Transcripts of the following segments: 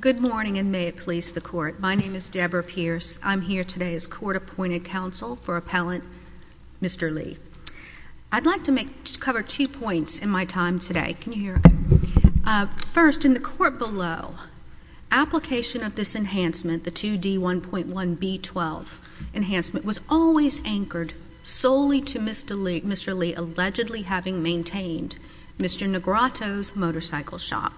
Good morning and may it please the court. My name is Debra Pierce. I'm here today as for appellant Mr. Lee. I'd like to cover two points in my time today. Can you hear me? First, in the court below, application of this enhancement, the 2D1.1B12 enhancement, was always anchored solely to Mr. Lee allegedly having maintained Mr. Negrato's motorcycle shop.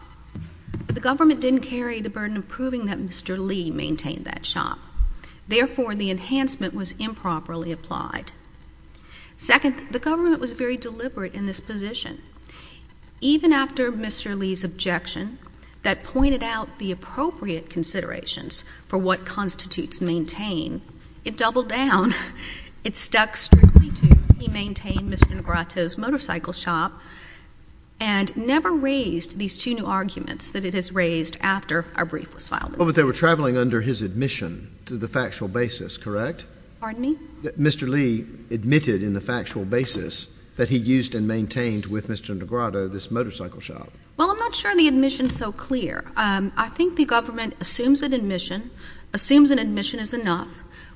The government didn't carry the burden of proving that Mr. Lee maintained that shop. Therefore, the enhancement was improperly applied. Second, the government was very deliberate in this position. Even after Mr. Lee's objection that pointed out the appropriate considerations for what constitutes maintain, it doubled down. It stuck strictly to he maintained Mr. Negrato's motorcycle shop and never raised these two new arguments that it has raised after a brief was filed. Well, but they were traveling under his admission to the factual basis, correct? Pardon me? Mr. Lee admitted in the factual basis that he used and maintained with Mr. Negrato this motorcycle shop. Well, I'm not sure the admission is so clear. I think the government assumes an admission, assumes an admission is enough,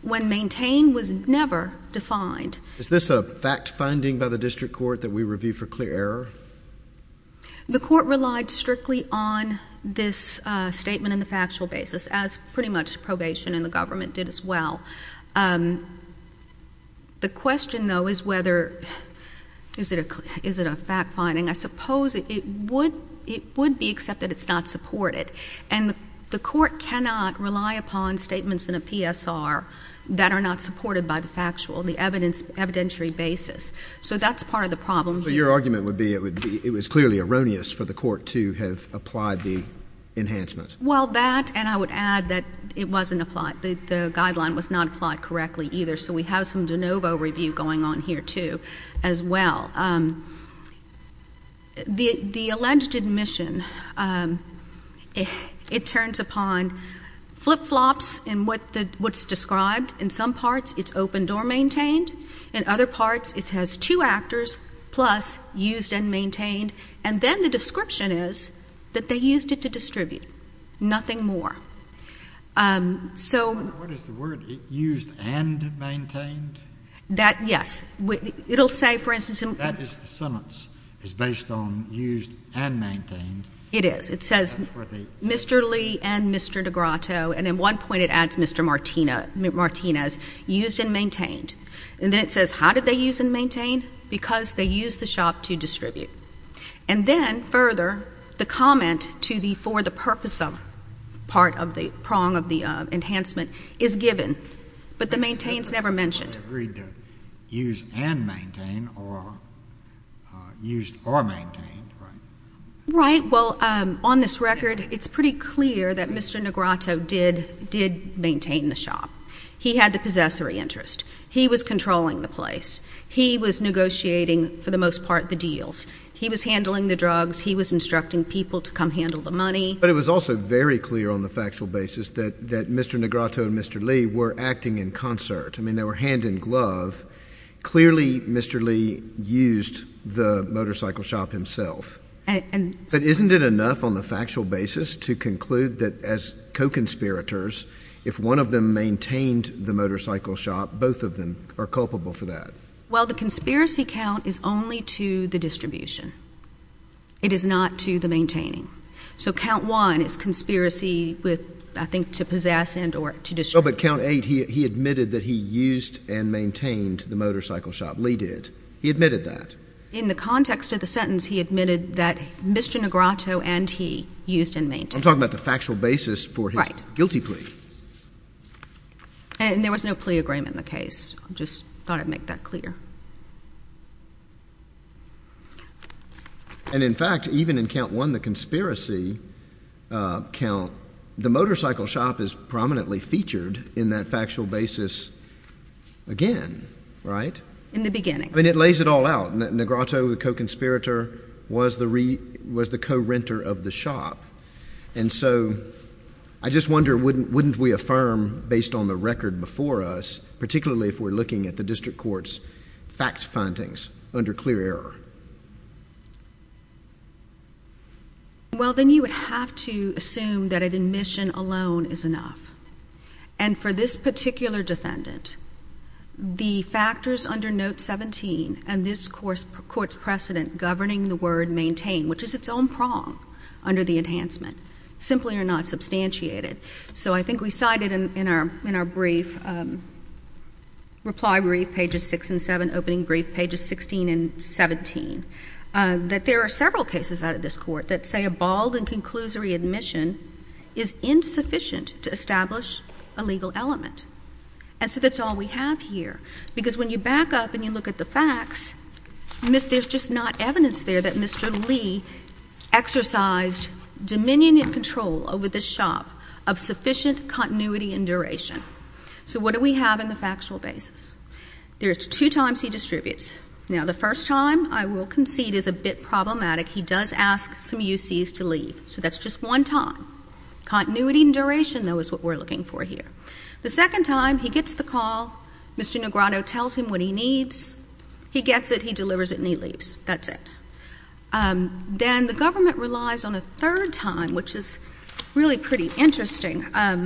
when maintain was never defined. Is this a fact finding by the district court that we review for clear The court relied strictly on this statement in the factual basis, as pretty much probation and the government did as well. The question, though, is whether, is it a fact finding? I suppose it would be, except that it's not supported. And the court cannot rely upon statements in a PSR that are not supported by the factual, the evidentiary basis. So that's part of the problem. So your argument would be it was clearly erroneous for the court to have applied the enhancements? Well, that, and I would add that it wasn't applied. The guideline was not applied correctly either. So we have some de novo review going on here, too, as well. The alleged admission, it turns upon flip-flops in what's described. In some parts, it's opened or maintained. In other parts, it has two actors plus used and maintained. And then the description is that they used it to distribute. Nothing more. So What is the word? Used and maintained? That, yes. It will say, for instance, That is the sentence. It's based on used and maintained. It is. It says Mr. De Grotto, and at one point it adds Mr. Martinez, used and maintained. And then it says, How did they use and maintain? Because they used the shop to distribute. And then, further, the comment to the for the purpose of part of the prong of the enhancement is given. But the maintained is never mentioned. But they agreed to use and maintain or used or maintained, right? Right. Well, on this record, it's pretty clear that Mr. De Grotto did maintain the shop. He had the possessory interest. He was controlling the place. He was negotiating, for the most part, the deals. He was handling the drugs. He was instructing people to come handle the money. But it was also very clear on the factual basis that Mr. De Grotto and Mr. Lee were acting in concert. I mean, they were hand in glove. Clearly, Mr. Lee used the motorcycle shop himself. But isn't it enough on the factual basis to conclude that as co-conspirators, if one of them maintained the motorcycle shop, both of them are culpable for that? Well, the conspiracy count is only to the distribution. It is not to the maintaining. So count one is conspiracy with, I think, to possess and or to distribute. Oh, but count eight, he admitted that he used and maintained the motorcycle shop. Lee did. He admitted that. In the context of the sentence, he admitted that Mr. De Grotto and he used and maintained. I'm talking about the factual basis for his guilty plea. Right. And there was no plea agreement in the case. I just thought I'd make that clear. And in fact, even in count one, the conspiracy count, the motorcycle shop is prominently featured in that factual basis again, right? In the beginning. And it lays it all out. De Grotto, the co-conspirator, was the co-renter of the shop. And so I just wonder, wouldn't we affirm based on the record before us, particularly if we're looking at the district court's fact findings under clear error? Well, then you would have to assume that an admission alone is enough. And for this particular defendant, the factors under note 17 and this court's precedent governing the word maintain, which is its own prong under the enhancement, simply are not substantiated. So I think we cited in our brief, reply brief, pages 6 and 7, opening brief, pages 16 and 17, that there are several cases out of this is insufficient to establish a legal element. And so that's all we have here. Because when you back up and you look at the facts, there's just not evidence there that Mr. Lee exercised dominion and control over this shop of sufficient continuity and duration. So what do we have in the factual basis? There's two times he distributes. Now, the first time, I will concede, is a bit problematic. He does ask some UCs to leave. So that's just one time. Continuity and duration, though, is what we're looking for here. The second time, he gets the call. Mr. Negrato tells him what he needs. He gets it. He delivers it and he leaves. That's it. Then the government relies on a third time, which is really pretty interesting. I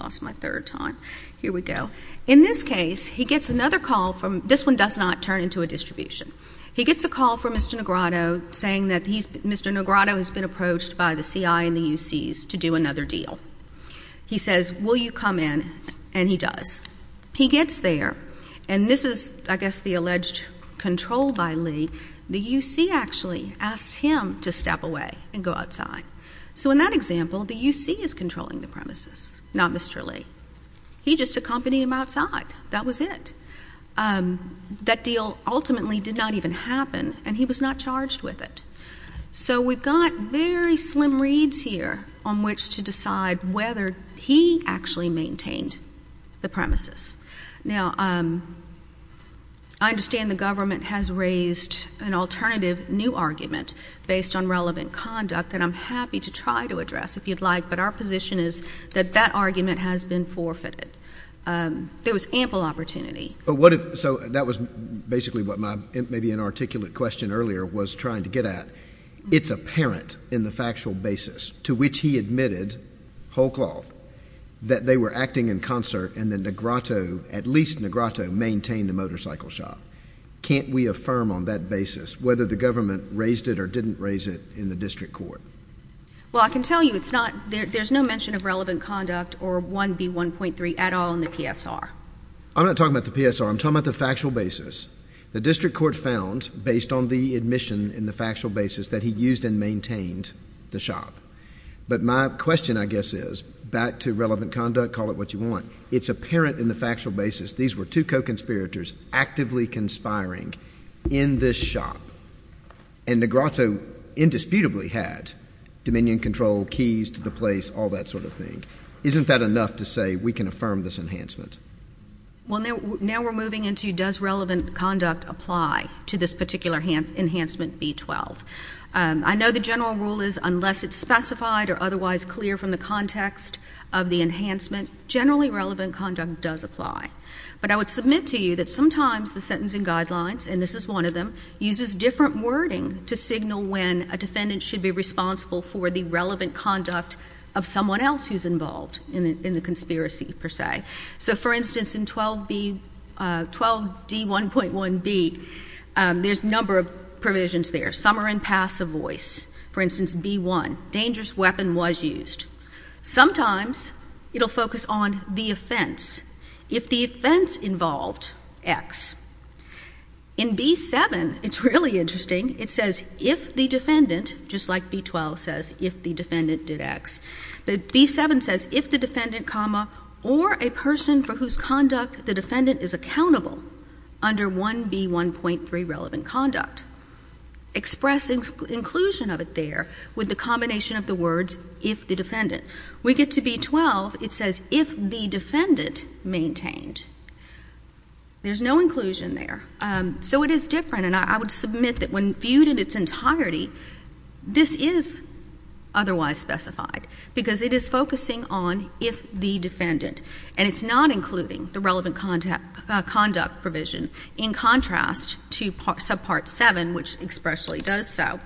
lost my third time. Here we go. In this case, he gets another call from this one does not turn into a distribution. He gets a call from Mr. Negrato saying that Mr. Negrato has been approached by the CI and the UCs to do another deal. He says, will you come in? And he does. He gets there. And this is, I guess, the alleged control by Lee. The UC actually asks him to step away and go outside. So in that example, the UC is controlling the premises, not Mr. Lee. He just accompanied him outside. That was it. That deal ultimately did not even happen, and he was not charged with it. So we've got very slim reads here on which to decide whether he actually maintained the premises. Now, I understand the government has raised an alternative new argument based on relevant conduct that I'm happy to try to address if you'd like, but our position is that that argument has been forfeited. There was ample opportunity. So that was basically what my maybe inarticulate question earlier was trying to get at. It's apparent in the factual basis to which he admitted, whole cloth, that they were acting in concert and that Negrato, at least Negrato, maintained the motorcycle shop. Can't we affirm on that basis whether the government raised it or didn't raise it in the district court? Well, I can tell you it's not — there's no mention of relevant conduct or 1B1.3 at all in the PSR. I'm not talking about the PSR. I'm talking about the factual basis. The district court found, based on the admission in the factual basis, that he used and maintained the shop. But my question, I guess, is, back to relevant conduct, call it what you want, it's apparent in the factual basis these were two co-conspirators actively conspiring in this shop, and Negrato indisputably had dominion control, keys to the place, all that sort of thing. Isn't that enough to say we can affirm this enhancement? Well, now we're moving into does relevant conduct apply to this particular enhancement B12? I know the general rule is unless it's specified or otherwise clear from the context of the enhancement, generally relevant conduct does apply. But I would submit to you that sometimes the sentencing guidelines, and this is one of them, uses different wording to signal when a defendant should be responsible for the relevant conduct of someone else who's involved in the conspiracy, per se. So, for instance, in 12D1.1B, there's a number of provisions there. Summary and passive voice. For instance, B1, dangerous weapon was used. Sometimes it will focus on the offense. If the offense involved X. In B7, it's really interesting, it says if the defendant, just like B12 says, if the defendant did X. But B7 says if the defendant, comma, or a person for whose conduct the defendant is accountable under 1B1.3 relevant conduct. Expressing inclusion of it there with the combination of the words if the defendant. We get to B12, it says if the defendant maintained. There's no inclusion there. So it is different. And I would submit that when viewed in its entirety, this is otherwise specified, because it is focusing on if the defendant. And it's not including the relevant conduct provision in contrast to subpart 7, which expressly does so.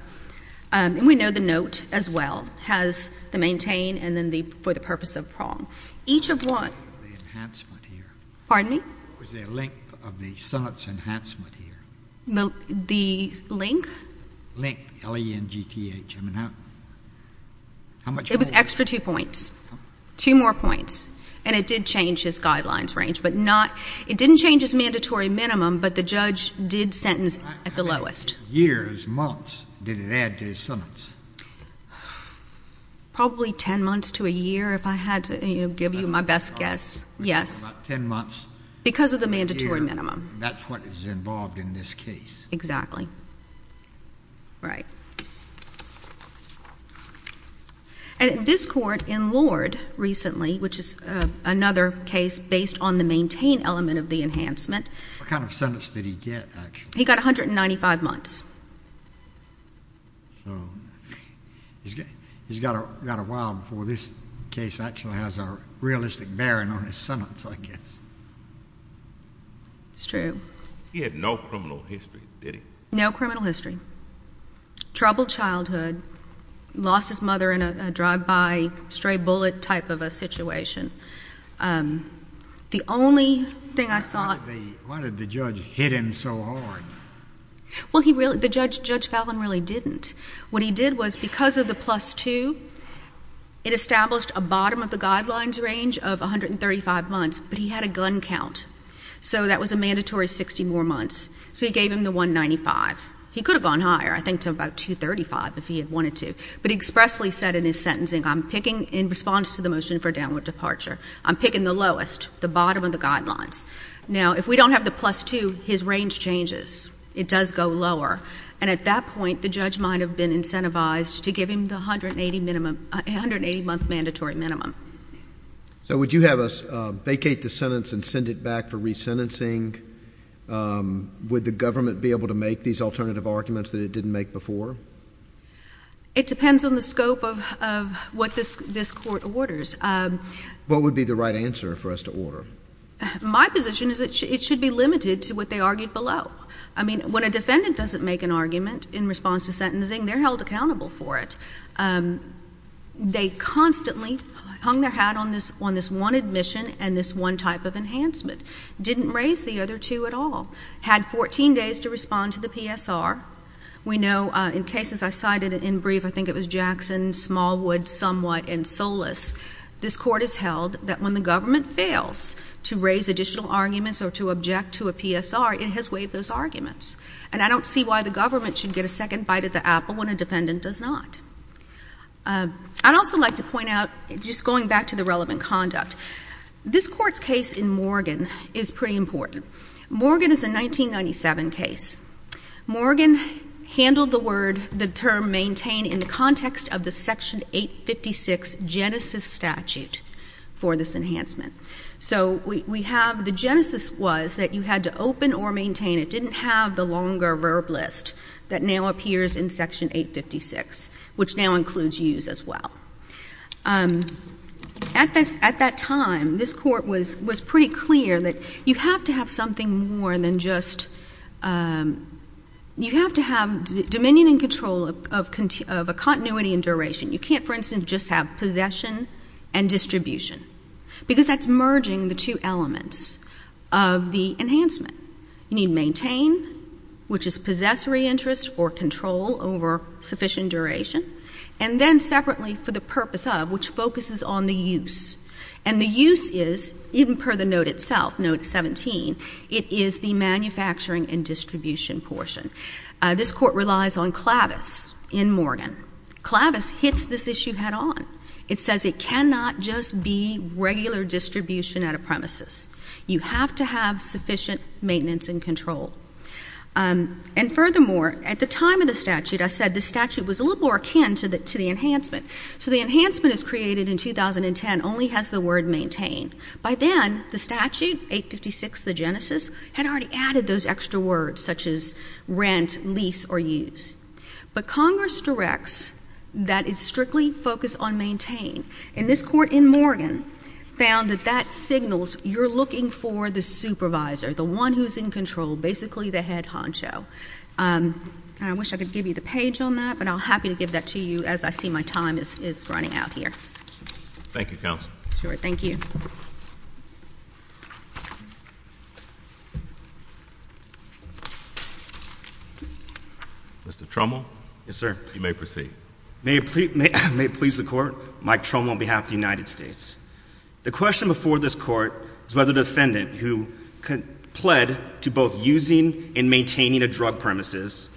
And we know the note as well has the maintain and then the for the purpose of prong. Each of one. The enhancement here. Pardon me? Was there a length of the sentence enhancement here? The link? Link, L-E-N-G-T-H. I mean, how much more? It was extra two points. Two more points. And it did change his guidelines range, but not — it didn't change his mandatory minimum, but the judge did sentence at the lowest. Years, months, did it add to his sentence? Probably 10 months to a year, if I had to give you my best guess. Yes. About 10 months. Because of the mandatory minimum. That's what is involved in this case. Exactly. Right. And this Court in Lord recently, which is another case based on the maintain element of the enhancement. What kind of sentence did he get, actually? He got 195 months. So, he's got a while before this case actually has a realistic bearing on his sentence, I guess. It's true. He had no criminal history, did he? No criminal history. Troubled childhood. Lost his mother in a drive-by stray bullet type of a situation. The only thing I saw — Why did the judge hit him so hard? Well, he really — Judge Fallin really didn't. What he did was, because of the plus 2, it established a bottom of the guidelines range of 135 months, but he had a gun count. So, that was a mandatory 60 more months. So, he gave him the 195. He could have gone higher, I think to about 235 if he had wanted to. But he expressly said in his sentencing, I'm picking, in response to the motion for downward departure, I'm picking the lowest, the bottom of the guidelines. Now, if we don't have the plus 2, his range changes. It does go lower. And at that point, the judge might have been incentivized to give him the 180-month mandatory minimum. So, would you have us vacate the sentence and send it back for resentencing? Would the government be able to make these alternative arguments that it didn't make before? It depends on the scope of what this court orders. What would be the right answer for us to order? My position is that it should be limited to what they argued below. I mean, when a defendant doesn't make an argument in response to sentencing, they're held accountable for it. They constantly hung their hat on this one admission and this one type of enhancement. Didn't raise the other two at all. Had 14 days to respond to the PSR. We know in cases I cited in brief, I think it was Jackson, Smallwood, Somewhat, and Solis, this court has held that when the government fails to raise additional arguments or to object to a PSR, it has waived those arguments. And I don't see why the government should get a second bite at the apple when a defendant does not. I'd also like to point out, just going back to the relevant conduct, this court's case in Morgan is pretty important. Morgan is a 1997 case. Morgan handled the term maintained in the context of the Section 856 Genesis statute for this enhancement. The Genesis was that you had to open or maintain. It didn't have the longer verb list that now appears in Section 856, which now includes use as well. At that time, this court was pretty clear that you have to have something more than just you have to have dominion and control of a continuity and duration. You can't, for instance, just have possession and distribution, because that's merging the two elements of the enhancement. You need maintain, which is possessory interest or control over sufficient duration, and then separately for the purpose of, which focuses on the use. And the use is, even per the note itself, note 17, it is the manufacturing and distribution portion. This court relies on clavis in Morgan. Clavis hits this issue head-on. It says it cannot just be regular distribution out of premises. You have to have sufficient maintenance and control. And furthermore, at the time of the statute, I said the statute was a little more akin to the enhancement. So the enhancement is created in 2010, only has the word maintain. By then, the statute, 856, the Genesis, had already added those extra words, such as rent, lease or use. But Congress directs that it's strictly focused on maintain. And this court in Morgan found that that signals you're looking for the supervisor, the one who's in control, basically the head honcho. And I wish I could give you the page on that, but I'm happy to give that to you as I see my time is running out here. Thank you, Counsel. Sure. Thank you. Mr. Trumwell? Yes, sir. You may proceed. May it please the Court? Mike Trumwell on behalf of the United States. The question before this Court is whether the defendant who pled to both using and maintaining a drug premises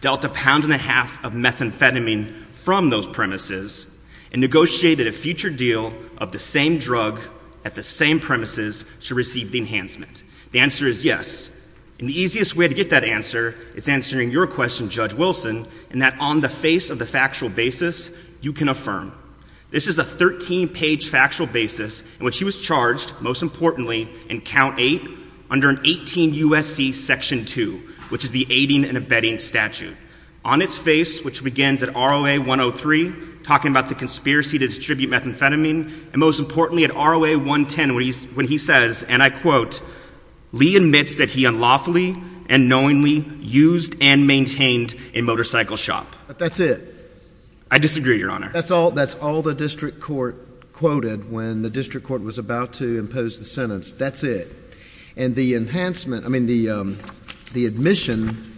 dealt a pound and a half of methamphetamine from those premises and negotiated a future deal of the same drug at the same premises to receive the enhancement. The answer is yes. And the easiest way to get that answer is answering your question, Judge Wilson, and that on the face of the factual basis, you can affirm. This is a 13-page factual basis in which he was charged, most importantly, in Count 8, under an 18 U.S.C. Section 2, which is the aiding and abetting statute. On its face, which begins at ROA 103, talking about the conspiracy to distribute methamphetamine, and most importantly, at ROA 110, when he says, and I quote, Lee admits that he unlawfully and knowingly used and maintained a motorcycle shop. But that's it. I disagree, Your Honor. That's all the district court quoted when the district court was about to impose the sentence. That's it. And the enhancement, I mean, the admission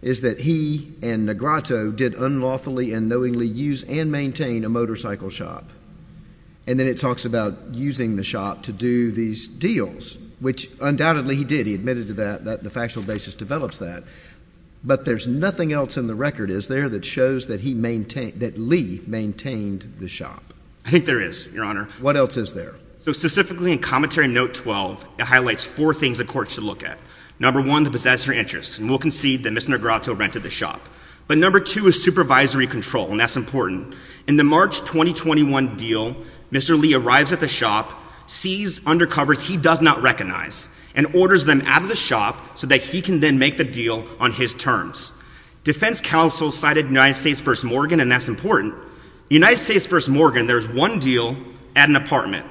is that he and Negrato did unlawfully and knowingly use and maintain a motorcycle shop. And then it talks about using the shop to do these deals, which undoubtedly he did. He admitted to that, that the factual basis develops that. But there's nothing else in the record, is there, that shows that Lee maintained the shop? I think there is, Your Honor. What else is there? So specifically in Commentary Note 12, it highlights four things the court should look at. Number one, the possessor interest. And we'll concede that Mr. Negrato rented the shop. But number two is supervisory control, and that's important. In the March 2021 deal, Mr. Lee arrives at the shop, sees undercovers he does not recognize, and orders them out of the shop so that he can then make the deal on his terms. Defense counsel cited United States v. Morgan, and that's important. United States v. Morgan, there's one deal at an apartment.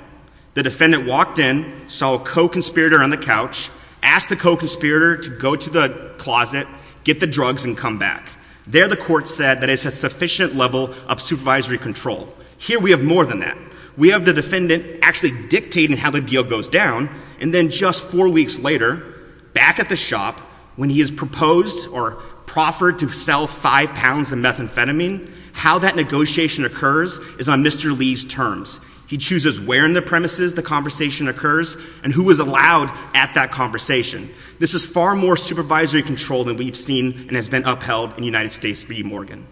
The defendant walked in, saw a co-conspirator on the couch, asked the co-conspirator to go to the closet, get the drugs, and come back. There the court said that it's a sufficient level of supervisory control. Here we have more than that. We have the defendant actually dictating how the deal goes down, and then just four weeks later, back at the shop, when he has proposed or proffered to sell five pounds of methamphetamine, how that negotiation occurs is on Mr. Lee's terms. He chooses where in the premises the conversation occurs and who is allowed at that conversation. This is far more supervisory control than we've seen and has been upheld in United States v. Morgan.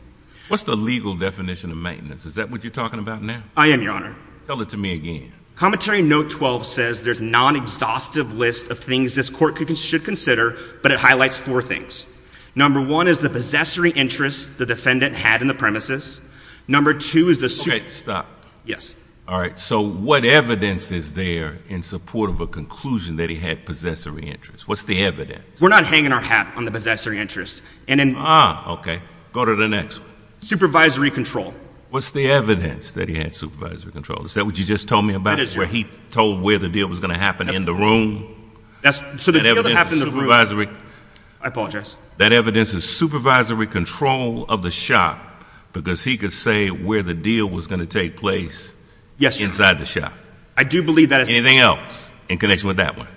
What's the legal definition of maintenance? Is that what you're talking about now? I am, Your Honor. Tell it to me again. Commentary note 12 says there's a non-exhaustive list of things this court should consider, but it highlights four things. Number one is the possessory interest the defendant had in the premises. Number two is the— Okay, stop. Yes. All right. So what evidence is there in support of a conclusion that he had possessory interest? What's the evidence? We're not hanging our hat on the possessory interest. Ah, okay. Go to the next one. Supervisory control. What's the evidence that he had supervisory control? Is that what you just told me about, where he told where the deal was going to happen in the room? So the deal that happened in the room— I apologize. That evidence is supervisory control of the shop because he could say where the deal was going to take place inside the shop. Anything else in connection with that one?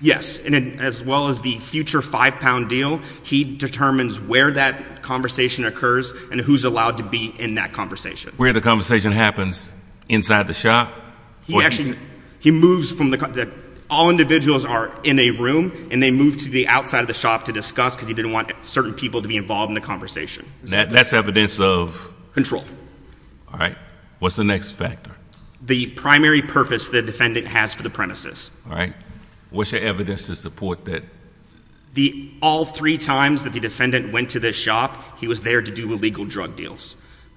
Yes. And as well as the future five-pound deal, he determines where that conversation occurs and who's allowed to be in that conversation. Where the conversation happens inside the shop? He moves from the—all individuals are in a room and they move to the outside of the shop to discuss because he didn't want certain people to be involved in the conversation. That's evidence of— All right. What's the next factor? The primary purpose the defendant has for the premises. All right. What's your evidence to support that? All three times that the defendant went to this shop, he was there to do illegal drug deals.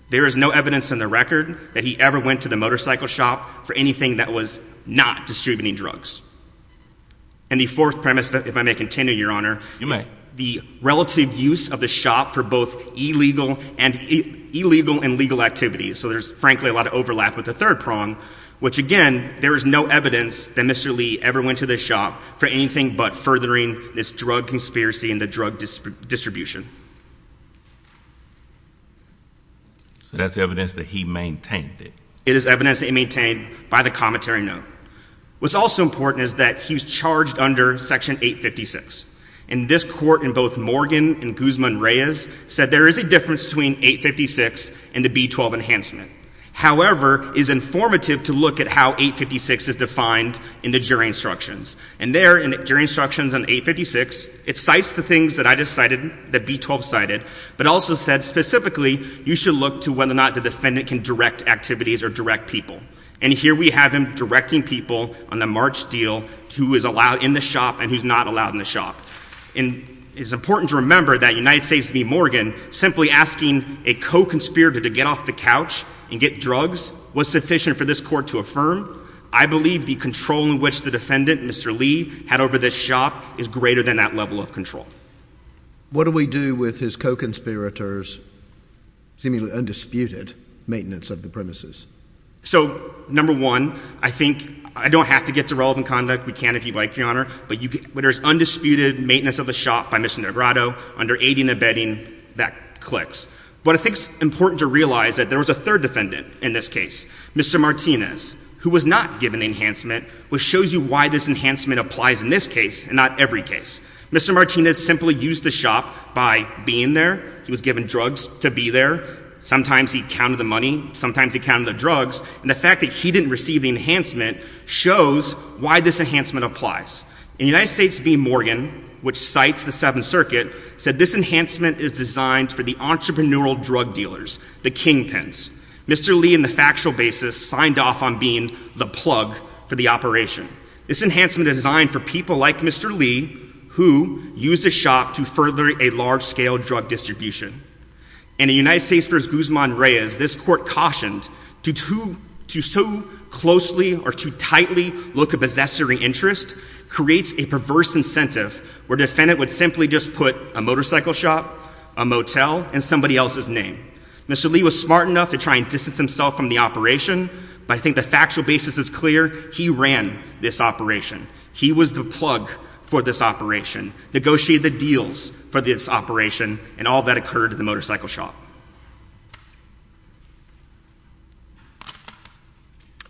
There is no evidence in the record that he ever went to the motorcycle shop for anything that was not distributing drugs. And the fourth premise, if I may continue, Your Honor— You may. —is the relative use of the shop for both illegal and legal activities. So there's, frankly, a lot of overlap with the third prong, which, again, there is no evidence that Mr. Lee ever went to this shop for anything but furthering this drug conspiracy and the drug distribution. So that's evidence that he maintained it. It is evidence that he maintained by the commentary note. What's also important is that he was charged under Section 856. And this Court, in both Morgan and Guzman-Reyes, said there is a difference between 856 and the B-12 enhancement. However, it is informative to look at how 856 is defined in the jury instructions. And there, in the jury instructions on 856, it cites the things that I just cited, that B-12 cited, but also said specifically you should look to whether or not the defendant can direct activities or direct people. And here we have him directing people on the March deal to who is allowed in the shop and who's not allowed in the shop. And it's important to remember that United States v. Morgan simply asking a co-conspirator to get off the couch and get drugs was sufficient for this Court to affirm. I believe the control in which the defendant, Mr. Lee, had over this shop is greater than that level of control. What do we do with his co-conspirator's seemingly undisputed maintenance of the premises? So, number one, I think I don't have to get to relevant conduct. We can if you'd like, Your Honor. But when there's undisputed maintenance of the shop by Mr. Negretto under aiding and abetting, that clicks. But I think it's important to realize that there was a third defendant in this case, Mr. Martinez, who was not given enhancement, which shows you why this enhancement applies in this case and not every case. Mr. Martinez simply used the shop by being there. He was given drugs to be there. Sometimes he counted the money. Sometimes he counted the drugs. And the fact that he didn't receive the enhancement shows why this enhancement applies. And United States v. Morgan, which cites the Seventh Circuit, said this enhancement is designed for the entrepreneurial drug dealers, the kingpins. Mr. Lee, in the factual basis, signed off on being the plug for the operation. This enhancement is designed for people like Mr. Lee, who used the shop to further a large-scale drug distribution. And in United States v. Guzman-Reyes, this court cautioned, to so closely or too tightly look a possessor in interest creates a perverse incentive where a defendant would simply just put a motorcycle shop, a motel, and somebody else's name. Mr. Lee was smart enough to try and distance himself from the operation, but I think the factual basis is clear. He ran this operation. He was the plug for this operation, negotiated the deals for this operation, and all that occurred at the motorcycle shop.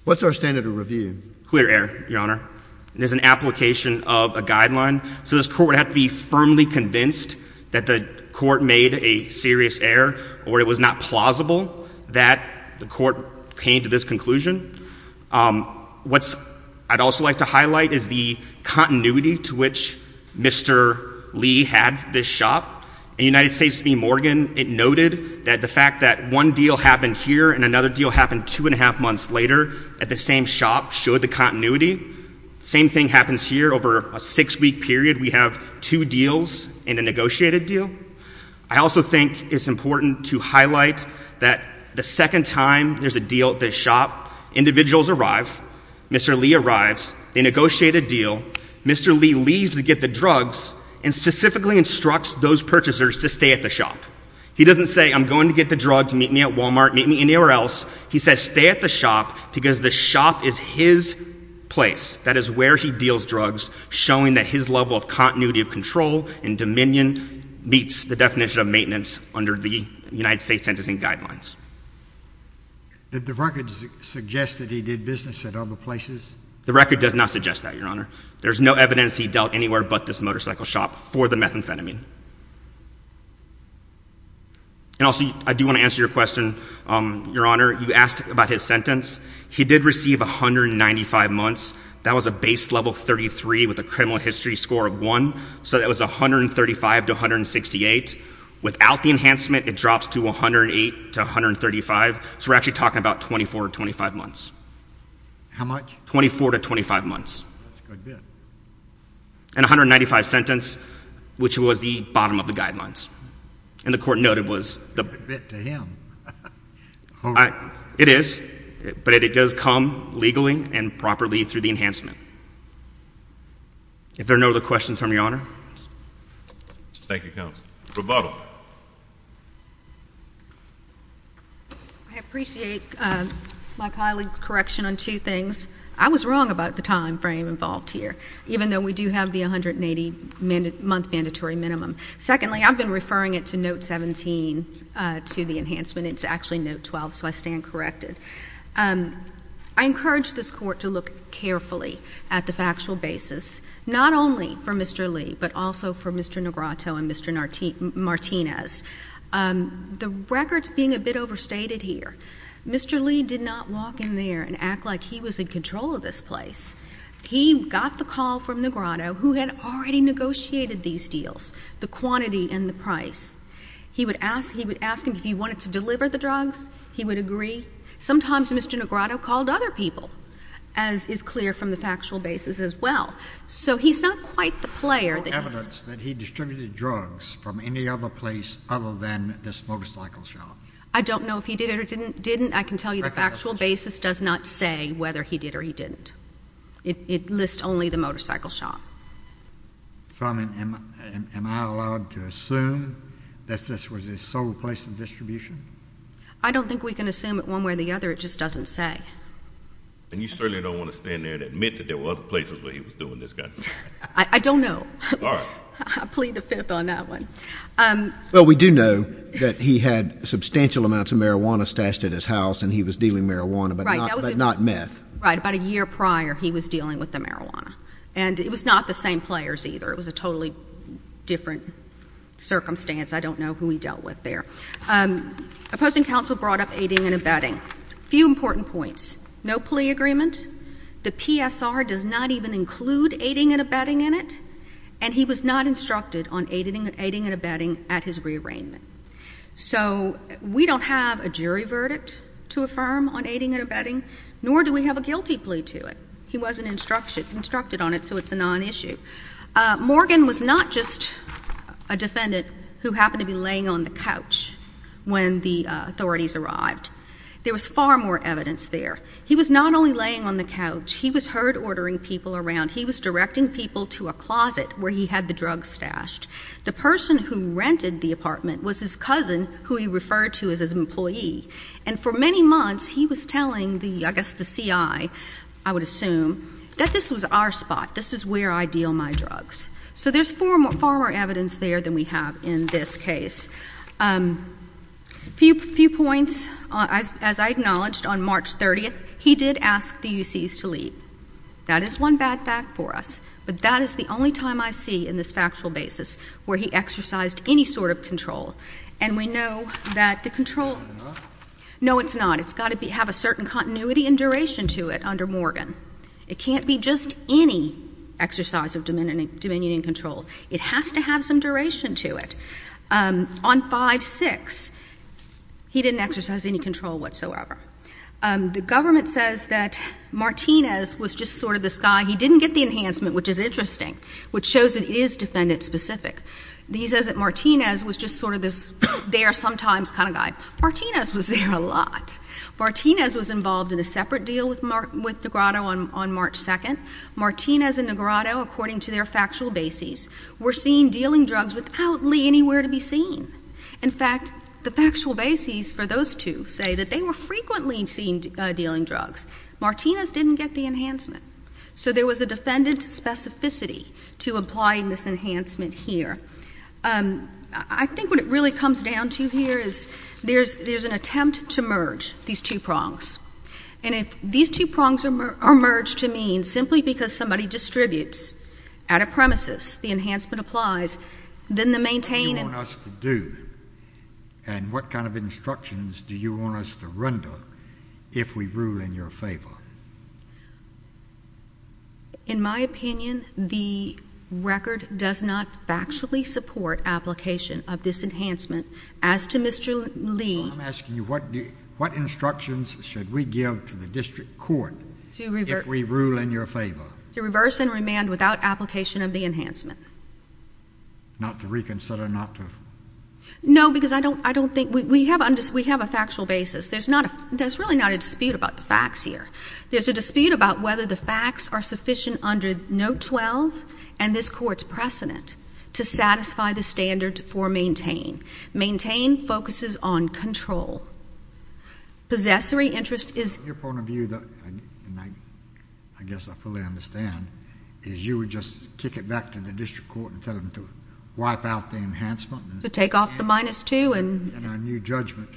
What's our standard of review? Clear error, Your Honor. It is an application of a guideline, so this court would have to be firmly convinced that the court made a serious error or it was not plausible that the court came to this conclusion. What I'd also like to highlight is the continuity to which Mr. Lee had this shop. In United States v. Morgan, it noted that the fact that one deal happened here and another deal happened two and a half months later at the same shop showed the continuity. The same thing happens here. Over a six-week period, we have two deals and a negotiated deal. I also think it's important to highlight that the second time there's a deal at this shop, individuals arrive, Mr. Lee arrives, they negotiate a deal, Mr. Lee leaves to get the drugs and specifically instructs those purchasers to stay at the shop. He doesn't say, I'm going to get the drugs, meet me at Walmart, meet me anywhere else. He says stay at the shop because the shop is his place. That is where he deals drugs, showing that his level of continuity of control and dominion meets the definition of maintenance under the United States Sentencing Guidelines. Did the record suggest that he did business at other places? The record does not suggest that, Your Honor. There's no evidence he dealt anywhere but this motorcycle shop for the methamphetamine. And also, I do want to answer your question, Your Honor. You asked about his sentence. He did receive 195 months. That was a base level 33 with a criminal history score of 1, so that was 135 to 168. Without the enhancement, it drops to 108 to 135, so we're actually talking about 24 to 25 months. How much? 24 to 25 months. That's a good bit. And 195 sentence, which was the bottom of the guidelines. And the court noted was the… That's a good bit to him. It is, but it does come legally and properly through the enhancement. If there are no other questions, Your Honor. Thank you, Counsel. Rebuttal. I appreciate my colleague's correction on two things. I was wrong about the time frame involved here, even though we do have the 180-month mandatory minimum. Secondly, I've been referring it to note 17 to the enhancement. It's actually note 12, so I stand corrected. I encourage this court to look carefully at the factual basis, not only for Mr. Lee, but also for Mr. Negrato and Mr. Martinez. The record's being a bit overstated here. Mr. Lee did not walk in there and act like he was in control of this place. He got the call from Negrato, who had already negotiated these deals, the quantity and the price. He would ask him if he wanted to deliver the drugs. He would agree. Sometimes Mr. Negrato called other people, as is clear from the factual basis as well. So he's not quite the player that he is. There's no evidence that he distributed drugs from any other place other than this motorcycle shop. I don't know if he did or didn't. I can tell you the factual basis does not say whether he did or he didn't. It lists only the motorcycle shop. So, I mean, am I allowed to assume that this was his sole place of distribution? I don't think we can assume it one way or the other. It just doesn't say. And you certainly don't want to stand there and admit that there were other places where he was doing this kind of thing. I don't know. All right. I plead the fifth on that one. Well, we do know that he had substantial amounts of marijuana stashed at his house, and he was dealing marijuana, but not meth. Right. About a year prior, he was dealing with the marijuana. And it was not the same players either. It was a totally different circumstance. I don't know who he dealt with there. Opposing counsel brought up aiding and abetting. A few important points. No plea agreement. The PSR does not even include aiding and abetting in it. And he was not instructed on aiding and abetting at his rearrangement. So we don't have a jury verdict to affirm on aiding and abetting, nor do we have a guilty plea to it. He wasn't instructed on it, so it's a non-issue. Morgan was not just a defendant who happened to be laying on the couch when the authorities arrived. There was far more evidence there. He was not only laying on the couch. He was heard ordering people around. He was directing people to a closet where he had the drugs stashed. The person who rented the apartment was his cousin, who he referred to as his employee. And for many months, he was telling, I guess, the CI, I would assume, that this was our spot. This is where I deal my drugs. So there's far more evidence there than we have in this case. A few points. As I acknowledged, on March 30th, he did ask the UCs to leave. That is one bad fact for us. But that is the only time I see in this factual basis where he exercised any sort of control. And we know that the control — It's not enough? No, it's not. It's got to have a certain continuity and duration to it under Morgan. It can't be just any exercise of dominion and control. It has to have some duration to it. On 5-6, he didn't exercise any control whatsoever. The government says that Martinez was just sort of this guy. He didn't get the enhancement, which is interesting, which shows it is defendant-specific. He says that Martinez was just sort of this there-sometimes kind of guy. Martinez was there a lot. Martinez was involved in a separate deal with Negretto on March 2nd. Martinez and Negretto, according to their factual bases, were seen dealing drugs without Lee anywhere to be seen. In fact, the factual bases for those two say that they were frequently seen dealing drugs. Martinez didn't get the enhancement. So there was a defendant specificity to applying this enhancement here. I think what it really comes down to here is there's an attempt to merge these two prongs. And if these two prongs are merged to mean simply because somebody distributes out of premises, the enhancement applies, then the maintaining— What do you want us to do and what kind of instructions do you want us to render if we rule in your favor? In my opinion, the record does not factually support application of this enhancement. As to Mr. Lee— I'm asking you what instructions should we give to the district court if we rule in your favor? To reverse and remand without application of the enhancement. Not to reconsider, not to— No, because I don't think—we have a factual basis. There's really not a dispute about the facts here. There's a dispute about whether the facts are sufficient under Note 12 and this Court's precedent to satisfy the standard for maintain. Maintain focuses on control. Possessory interest is— Your point of view, and I guess I fully understand, is you would just kick it back to the district court and tell them to wipe out the enhancement— To take off the minus 2 and— And our new judgment.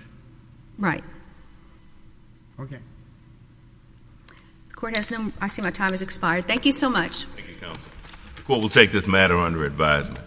Right. Okay. The Court has no—I see my time has expired. Thank you so much. Thank you, Counsel. The Court will take this matter under advisement.